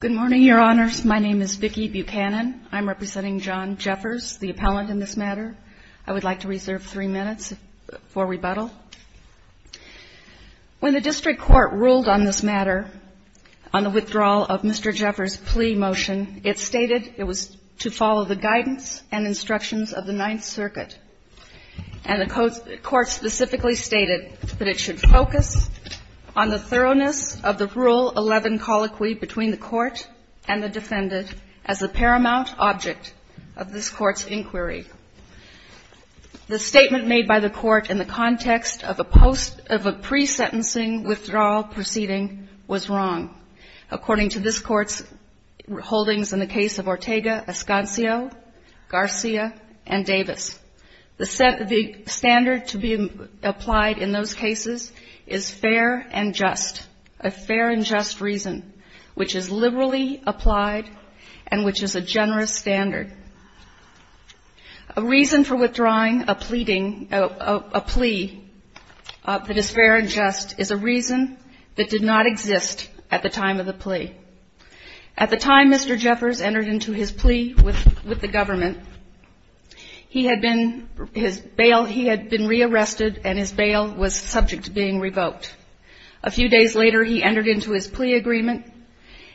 Good morning, Your Honors. My name is Vicki Buchanan. I'm representing John Jeffers, the appellant in this matter. I would like to reserve three minutes for rebuttal. When the district court ruled on this matter, on the withdrawal of Mr. Jeffers' plea motion, it stated it was to follow the guidance and instructions of the court and the defendant as a paramount object of this Court's inquiry. The statement made by the court in the context of a pre-sentencing withdrawal proceeding was wrong, according to this Court's holdings in the case of Ortega, Escancio, Garcia, and Davis. The standard to be applied in those cases is fair and just, a fair and just reason, which is liberally applied and which is a generous standard. A reason for withdrawing a pleading a plea that is fair and just is a reason that did not exist at the time of the plea. At the time Mr. Jeffers entered into his plea with the government, he had been, his bail, he had been rearrested and his bail was subject to being revoked. A few days later, he entered into his plea agreement,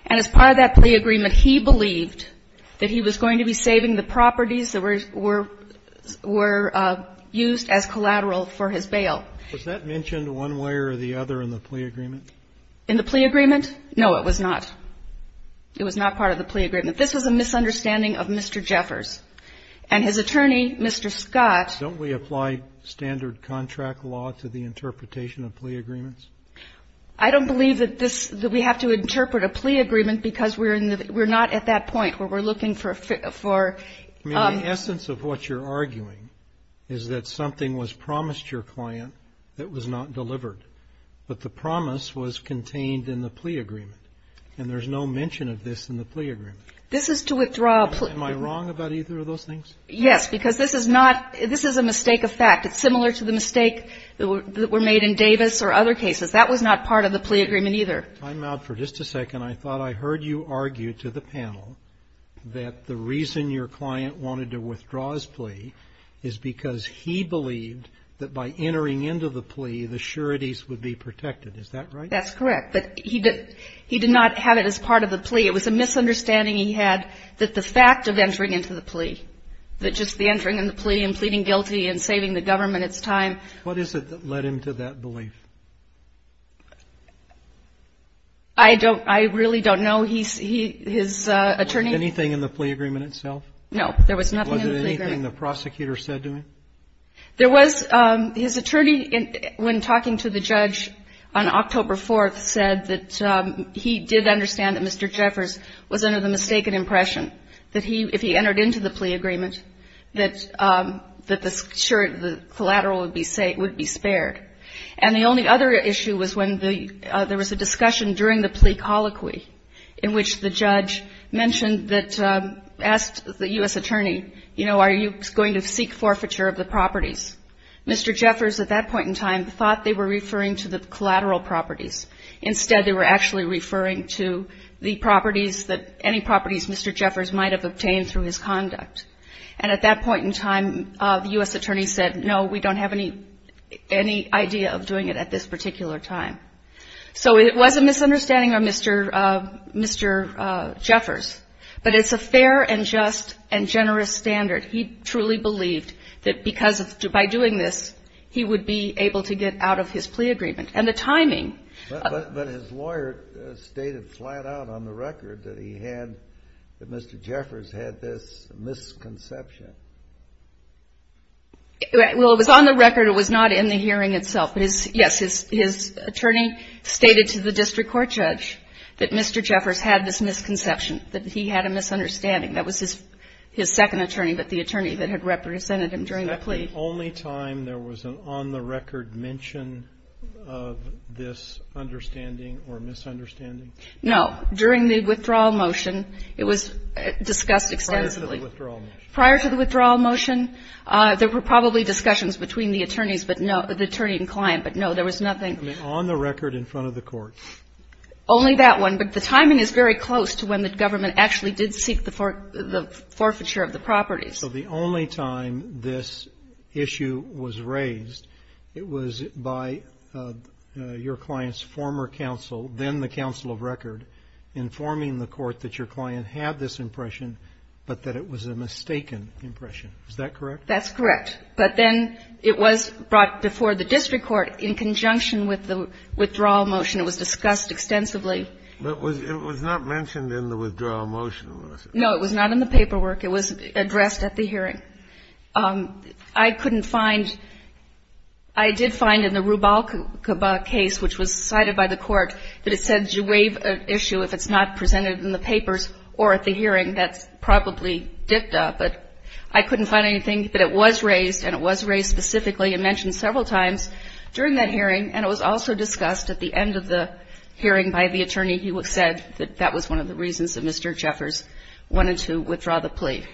and as part of that plea agreement, he believed that he was going to be saving the properties that were used as collateral for his bail. Was that mentioned one way or the other in the plea agreement? In the plea agreement? No, it was not. It was not part of the plea agreement. This was a misunderstanding of Mr. Jeffers and his attorney, Mr. Scott. Don't we apply standard contract law to the interpretation of plea agreements? I don't believe that this, that we have to interpret a plea agreement because we're in the, we're not at that point where we're looking for, for. I mean, the essence of what you're arguing is that something was promised your client that was not delivered, but the promise was contained in the plea agreement. And there's no mention of this in the plea agreement. This is to withdraw a plea. Am I wrong about either of those things? Yes, because this is not, this is a mistake of fact. It's similar to the mistake that were made in Davis or other cases. That was not part of the plea agreement either. I'm out for just a second. I thought I heard you argue to the panel that the reason your client wanted to withdraw his plea is because he believed that by entering into the plea, the sureties would be protected. Is that right? That's correct. But he did, he did not have it as part of the plea. It was a misunderstanding he had that the fact of entering into the plea, that just the entering in the plea and pleading guilty and saving the government its time. What is it that led him to that belief? I don't, I really don't know. He's, he, his attorney. Anything in the plea agreement itself? No, there was nothing in the plea agreement. Was it anything the prosecutor said to him? There was, his attorney, when talking to the judge on October 4th, said that he did understand that Mr. Jeffers was under the mistaken impression that he, if he entered into the plea agreement, that the collateral would be spared. And the only other issue was when there was a discussion during the plea colloquy in which the judge mentioned that, asked the U.S. attorney, you know, are you going to seek forfeiture of the properties? Mr. Jeffers at that point in time thought they were referring to the collateral properties. Instead, they were actually referring to the properties that, any properties Mr. Jeffers might have obtained through his conduct. And at that point in time, the U.S. attorney said, no, we don't have any, any idea of doing it at this particular time. So it was a misunderstanding of Mr. Jeffers. But it's a fair and just and generous standard. He truly believed that because of, by doing this, he would be able to get out of his plea agreement. And the timing. But his lawyer stated flat out on the record that he had, that Mr. Jeffers had this misconception. Well, it was on the record. It was not in the hearing itself. But, yes, his attorney stated to the district court judge that Mr. Jeffers had this misconception, that he had a misunderstanding. That was his second attorney, but the attorney that had represented him during the plea. The only time there was an on-the-record mention of this understanding or misunderstanding? No. During the withdrawal motion, it was discussed extensively. Prior to the withdrawal motion? Prior to the withdrawal motion, there were probably discussions between the attorneys, but no, the attorney and client, but no, there was nothing. I mean, on the record in front of the court? Only that one. But the timing is very close to when the government actually did seek the forfeiture of the properties. So the only time this issue was raised, it was by your client's former counsel, then the counsel of record, informing the court that your client had this impression, but that it was a mistaken impression. Is that correct? That's correct. But then it was brought before the district court in conjunction with the withdrawal motion. It was discussed extensively. But it was not mentioned in the withdrawal motion, was it? It was not in the paperwork. It was addressed at the hearing. I couldn't find — I did find in the Rubalcaba case, which was cited by the court, that it said, do you waive an issue if it's not presented in the papers or at the hearing? That's probably dipped up, but I couldn't find anything. But it was raised, and it was raised specifically and mentioned several times during that hearing, and it was also discussed at the end of the hearing by the attorney. He said that that was one of the reasons that Mr. Jeffers wanted to withdraw the plea.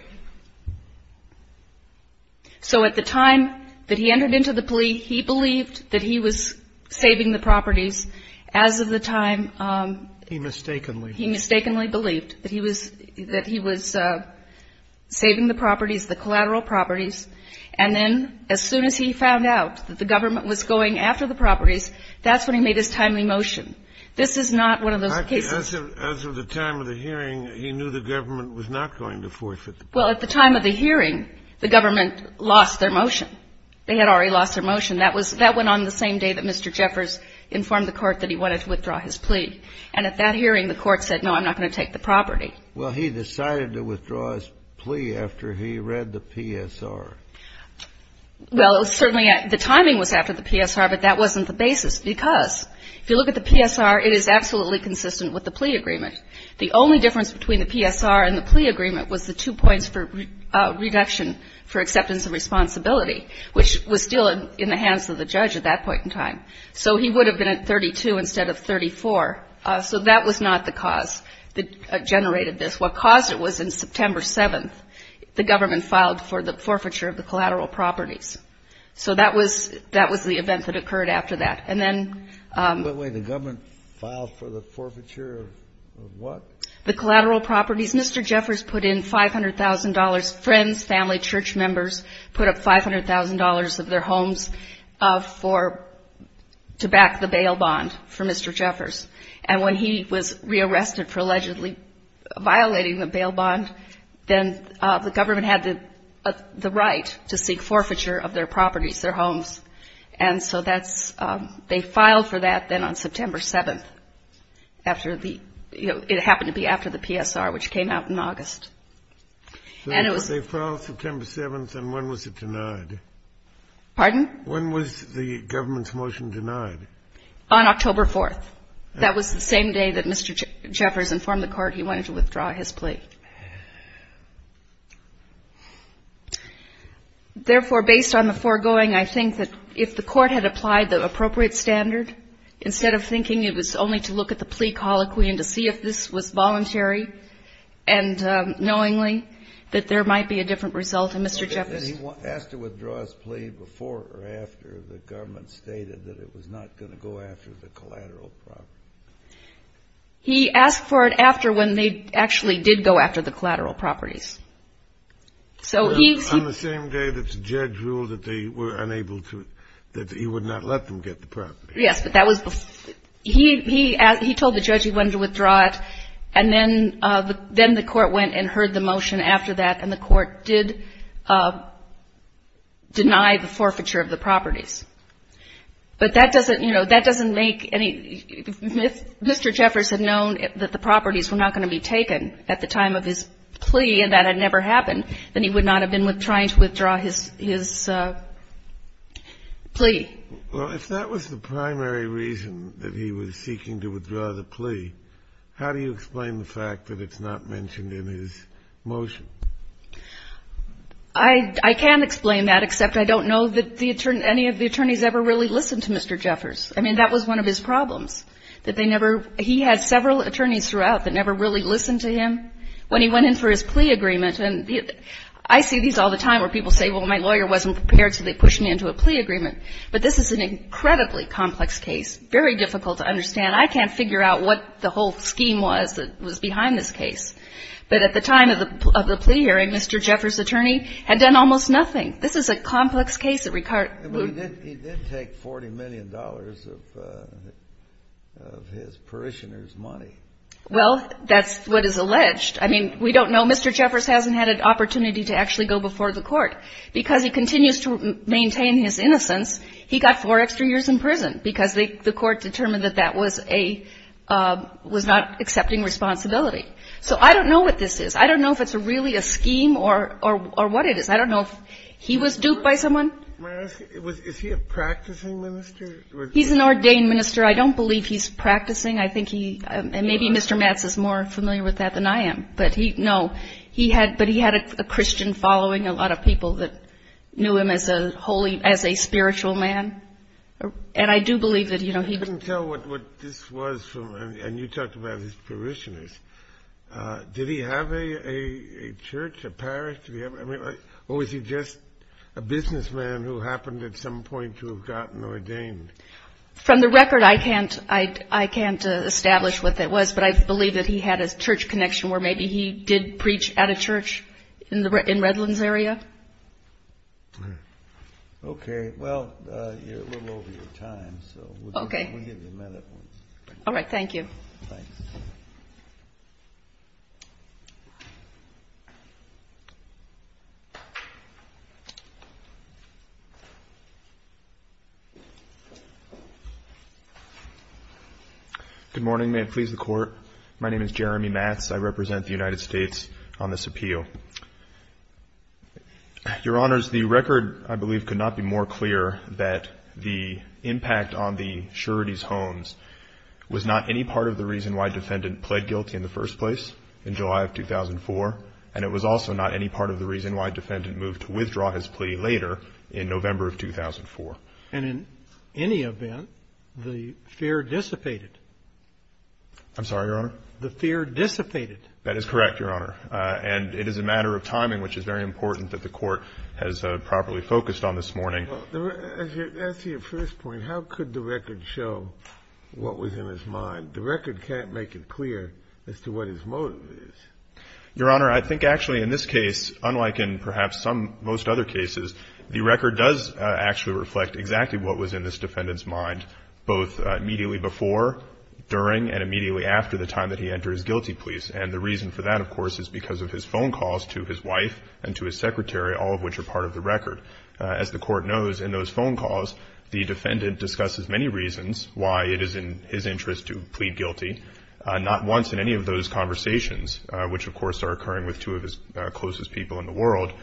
So at the time that he entered into the plea, he believed that he was saving the properties. As of the time — He mistakenly. He mistakenly believed that he was saving the properties, the collateral properties. And then as soon as he found out that the government was going after the properties, that's when he made his timely motion. This is not one of those cases — As of the time of the hearing, he knew the government was not going to forfeit the property. Well, at the time of the hearing, the government lost their motion. They had already lost their motion. That was — that went on the same day that Mr. Jeffers informed the court that he wanted to withdraw his plea. And at that hearing, the court said, no, I'm not going to take the property. Well, he decided to withdraw his plea after he read the PSR. Well, certainly the timing was after the PSR, but that wasn't the basis, because if you look at the PSR, it is absolutely consistent with the plea agreement. The only difference between the PSR and the plea agreement was the two points for reduction for acceptance of responsibility, which was still in the hands of the judge at that point in time. So he would have been at 32 instead of 34. So that was not the cause that generated this. What caused it was in September 7th, the government filed for the forfeiture of the collateral properties. So that was — that was the event that occurred after that. And then — Wait, wait. The government filed for the forfeiture of what? The collateral properties. Mr. Jeffers put in $500,000. Friends, family, church members put up $500,000 of their homes for — to back the bail bond for Mr. Jeffers. And when he was rearrested for allegedly violating the bail bond, then the government had the right to seek forfeiture of their properties, their homes. And so that's — they filed for that then on September 7th after the — you know, it happened to be after the PSR, which came out in August. And it was — So they filed September 7th, and when was it denied? Pardon? When was the government's motion denied? On October 4th. That was the same day that Mr. Jeffers informed the court he wanted to withdraw his plea. Therefore, based on the foregoing, I think that if the court had applied the appropriate standard, instead of thinking it was only to look at the plea colloquy and to see if this was voluntary and knowingly, that there might be a different result in Mr. Jeffers' — And he asked to withdraw his plea before or after the government stated that it was not going to go after the collateral property. He asked for it after when they actually did go after the collateral properties. So he — On the same day that the judge ruled that they were unable to — that he would not let them get the property. Yes, but that was — he told the judge he wanted to withdraw it, and then the court went and heard the motion after that, and the court did deny the forfeiture of the properties. But that doesn't — you know, that doesn't make any — if Mr. Jeffers had known that the properties were not going to be taken at the time of his plea and that had never happened, then he would not have been trying to withdraw his plea. Well, if that was the primary reason that he was seeking to withdraw the plea, how do you explain the fact that it's not mentioned in his motion? I can't explain that, except I don't know that any of the attorneys ever really listened to Mr. Jeffers. I mean, that was one of his problems, that they never — he had several attorneys throughout that never really listened to him when he went in for his plea agreement. And I see these all the time where people say, well, my lawyer wasn't prepared, so they pushed me into a plea agreement. But this is an incredibly complex case, very difficult to understand. I can't figure out what the whole scheme was that was behind this case. But at the time of the plea hearing, Mr. Jeffers' attorney had done almost nothing. This is a complex case that — He did take $40 million of his parishioners' money. Well, that's what is alleged. I mean, we don't know. Mr. Jeffers hasn't had an opportunity to actually go before the court. Because he continues to maintain his innocence, he got four extra years in prison, because the court determined that that was a — was not accepting responsibility. So I don't know what this is. I don't know if it's really a scheme or what it is. I don't know if he was duped by someone. Is he a practicing minister? He's an ordained minister. I don't believe he's practicing. I think he — and maybe Mr. Matz is more familiar with that than I am. But he — no, he had — but he had a Christian following, a lot of people that knew him as a holy — as a spiritual man. And I do believe that, you know, he — I can't tell what this was from — and you talked about his parishioners. Did he have a church, a parish? I mean, or was he just a businessman who happened at some point to have gotten ordained? From the record, I can't establish what that was. But I believe that he had a church connection where maybe he did preach at a church in Redlands area. Okay. All right, well, you're a little over your time, so we'll give you a minute. All right, thank you. Thanks. Good morning. May it please the Court, my name is Jeremy Matz. I represent the United States on this appeal. Your Honors, the record, I believe, could not be more clear that the impact on the Surety's Homes was not any part of the reason why defendant pled guilty in the first place in July of 2004, and it was also not any part of the reason why defendant moved to withdraw his plea later in November of 2004. And in any event, the fear dissipated. I'm sorry, Your Honor? The fear dissipated. That is correct, Your Honor. And it is a matter of timing, which is very important that the Court has properly focused on this morning. As to your first point, how could the record show what was in his mind? The record can't make it clear as to what his motive is. Your Honor, I think actually in this case, unlike in perhaps most other cases, the record does actually reflect exactly what was in this defendant's mind, both immediately before, during, and immediately after the time that he entered his guilty pleas. And the reason for that, of course, is because of his phone calls to his wife and to his secretary, all of which are part of the record. As the Court knows, in those phone calls, the defendant discusses many reasons why it is in his interest to plead guilty, not once in any of those conversations, which, of course, are occurring with two of his closest people in the world,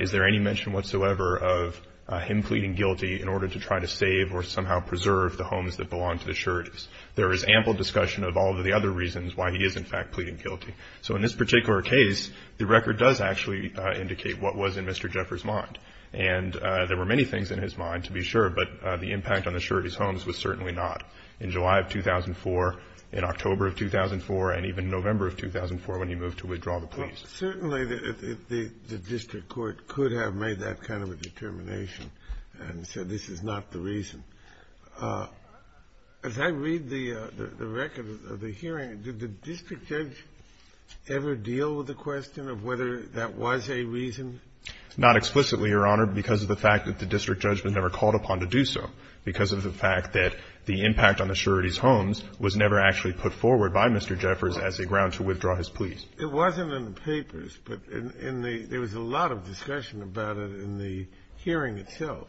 is there any mention whatsoever of him pleading guilty in order to try to save or somehow preserve the homes that belong to the Surety's. There is ample discussion of all of the other reasons why he is, in fact, pleading guilty. So in this particular case, the record does actually indicate what was in Mr. Jeffers' mind. And there were many things in his mind, to be sure, but the impact on the Surety's homes was certainly not in July of 2004, in October of 2004, and even November of 2004 when he moved to withdraw the pleas. Certainly the district court could have made that kind of a determination and said this is not the reason. As I read the record of the hearing, did the district judge ever deal with the question of whether that was a reason? Not explicitly, Your Honor, because of the fact that the district judge was never called upon to do so because of the fact that the impact on the Surety's homes was never actually put forward by Mr. Jeffers as a ground to withdraw his pleas. It wasn't in the papers, but in the — there was a lot of discussion about it in the hearing itself.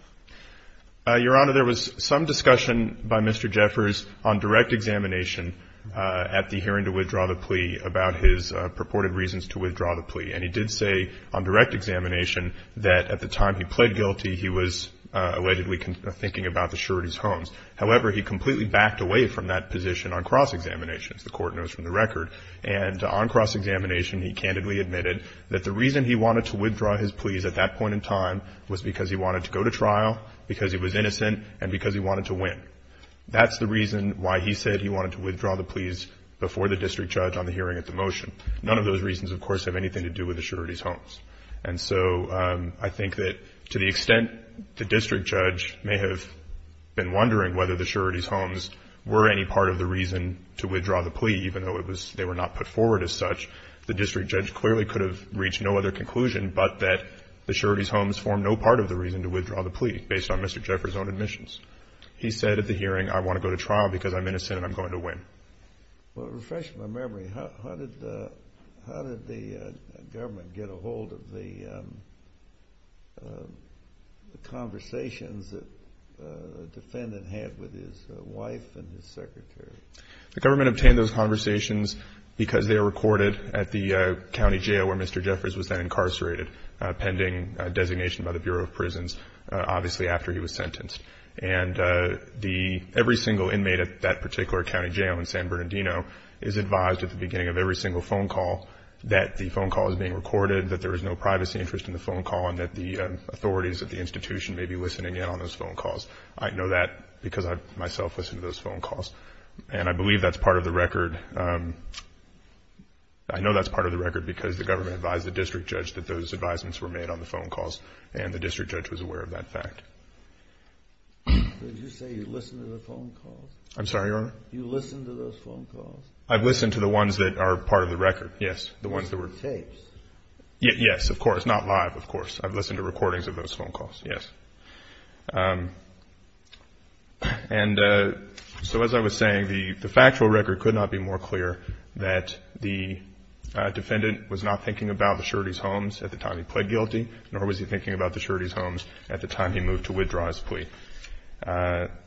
Your Honor, there was some discussion by Mr. Jeffers on direct examination at the hearing to withdraw the plea about his purported reasons to withdraw the plea. And he did say on direct examination that at the time he pled guilty, he was allegedly thinking about the Surety's homes. However, he completely backed away from that position on cross-examination, as the Court knows from the record. And on cross-examination, he candidly admitted that the reason he wanted to withdraw his pleas at that point in time was because he wanted to go to trial, because he was innocent, and because he wanted to win. That's the reason why he said he wanted to withdraw the pleas before the district judge on the hearing at the motion. None of those reasons, of course, have anything to do with the Surety's homes. And so I think that to the extent the district judge may have been wondering whether the Surety's homes were any part of the reason to withdraw the plea, even though they were not put forward as such, the district judge clearly could have reached no other conclusion but that the Surety's homes formed no part of the reason to withdraw the plea, based on Mr. Jeffers' own admissions. He said at the hearing, I want to go to trial because I'm innocent and I'm going to win. Well, it refreshes my memory. How did the government get a hold of the conversations that the defendant had with his wife and his secretary? The government obtained those conversations because they were recorded at the county jail where Mr. Jeffers was then incarcerated, pending designation by the Bureau of Prisons, obviously after he was sentenced. And every single inmate at that particular county jail in San Bernardino is advised at the beginning of every single phone call that the phone call is being recorded, that there is no privacy interest in the phone call, and that the authorities at the institution may be listening in on those phone calls. I know that because I myself listen to those phone calls. And I believe that's part of the record. I know that's part of the record because the government advised the district judge that those advisements were made on the phone calls, and the district judge was aware of that fact. Did you say you listened to the phone calls? I'm sorry, Your Honor? You listened to those phone calls? I've listened to the ones that are part of the record, yes, the ones that were... Tapes? Yes, of course, not live, of course. I've listened to recordings of those phone calls, yes. And so as I was saying, the factual record could not be more clear that the defendant was not thinking about the surety's homes at the time he pled guilty, nor was he thinking about the surety's homes at the time he moved to withdraw his plea. The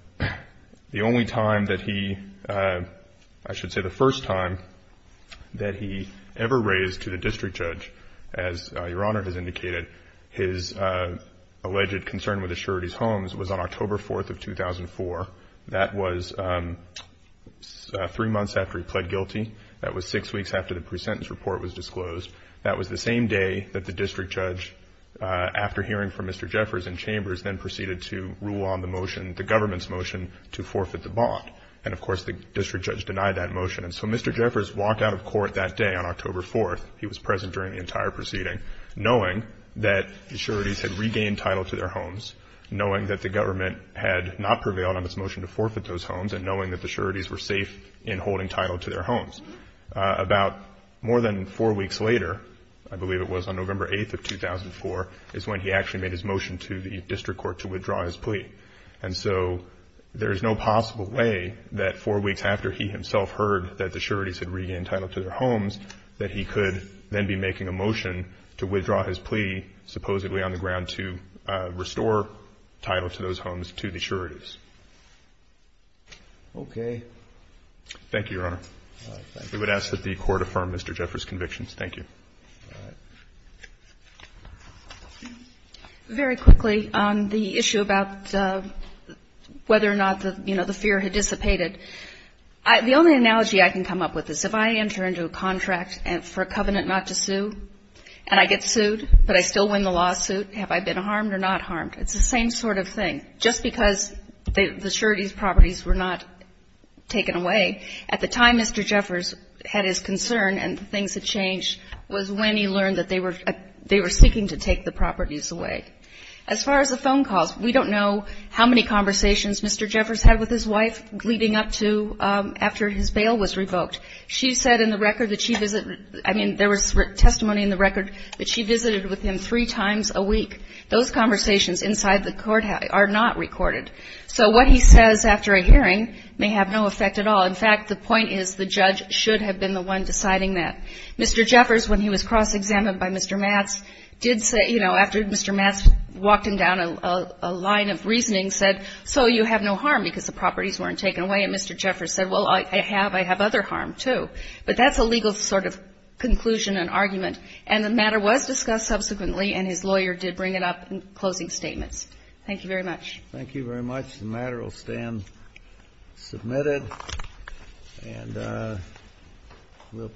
only time that he... I should say the first time that he ever raised to the district judge, as Your Honor has indicated, his alleged concern with the surety's homes was on October 4th of 2004. That was three months after he pled guilty. That was six weeks after the pre-sentence report was disclosed. That was the same day that the district judge, after hearing from Mr. Jeffers in Chambers, then proceeded to rule on the motion, the government's motion, to forfeit the bond. And, of course, the district judge denied that motion. And so Mr. Jeffers walked out of court that day on October 4th. He was present during the entire proceeding, knowing that the surety's had regained title to their homes, knowing that the government had not prevailed on its motion to forfeit those homes, and knowing that the surety's were safe in holding title to their homes. About more than four weeks later, I believe it was on November 8th of 2004, is when he actually made his motion to the district court to withdraw his plea. And so there is no possible way that four weeks after he himself heard that the surety's had regained title to their homes, that he could then be making a motion to withdraw his plea, supposedly on the ground, to restore title to those homes to the surety's. Roberts. Okay. Thank you, Your Honor. We would ask that the Court affirm Mr. Jeffers' convictions. Thank you. All right. Very quickly on the issue about whether or not the, you know, the fear had dissipated. The only analogy I can come up with is if I enter into a contract for a covenant not to sue, and I get sued, but I still win the lawsuit, have I been harmed or not harmed? It's the same sort of thing. Just because the surety's properties were not taken away, at the time Mr. Jeffers had his concern and things had changed was when he learned that they were seeking to take the properties away. As far as the phone calls, we don't know how many conversations Mr. Jeffers had with his wife leading up to after his bail was revoked. She said in the record that she visited, I mean, there was testimony in the record that she visited with him three times a week. Those conversations inside the courthouse are not recorded. So what he says after a hearing may have no effect at all. In fact, the point is the judge should have been the one deciding that. Mr. Jeffers, when he was cross-examined by Mr. Matz, did say, you know, after Mr. Matz walked him down a line of reasoning, said, so you have no harm because the properties weren't taken away. And Mr. Jeffers said, well, I have. I have other harm, too. But that's a legal sort of conclusion and argument. And the matter was discussed subsequently, and his lawyer did bring it up in closing statements. Thank you very much. Thank you very much. The matter will stand submitted. And we'll.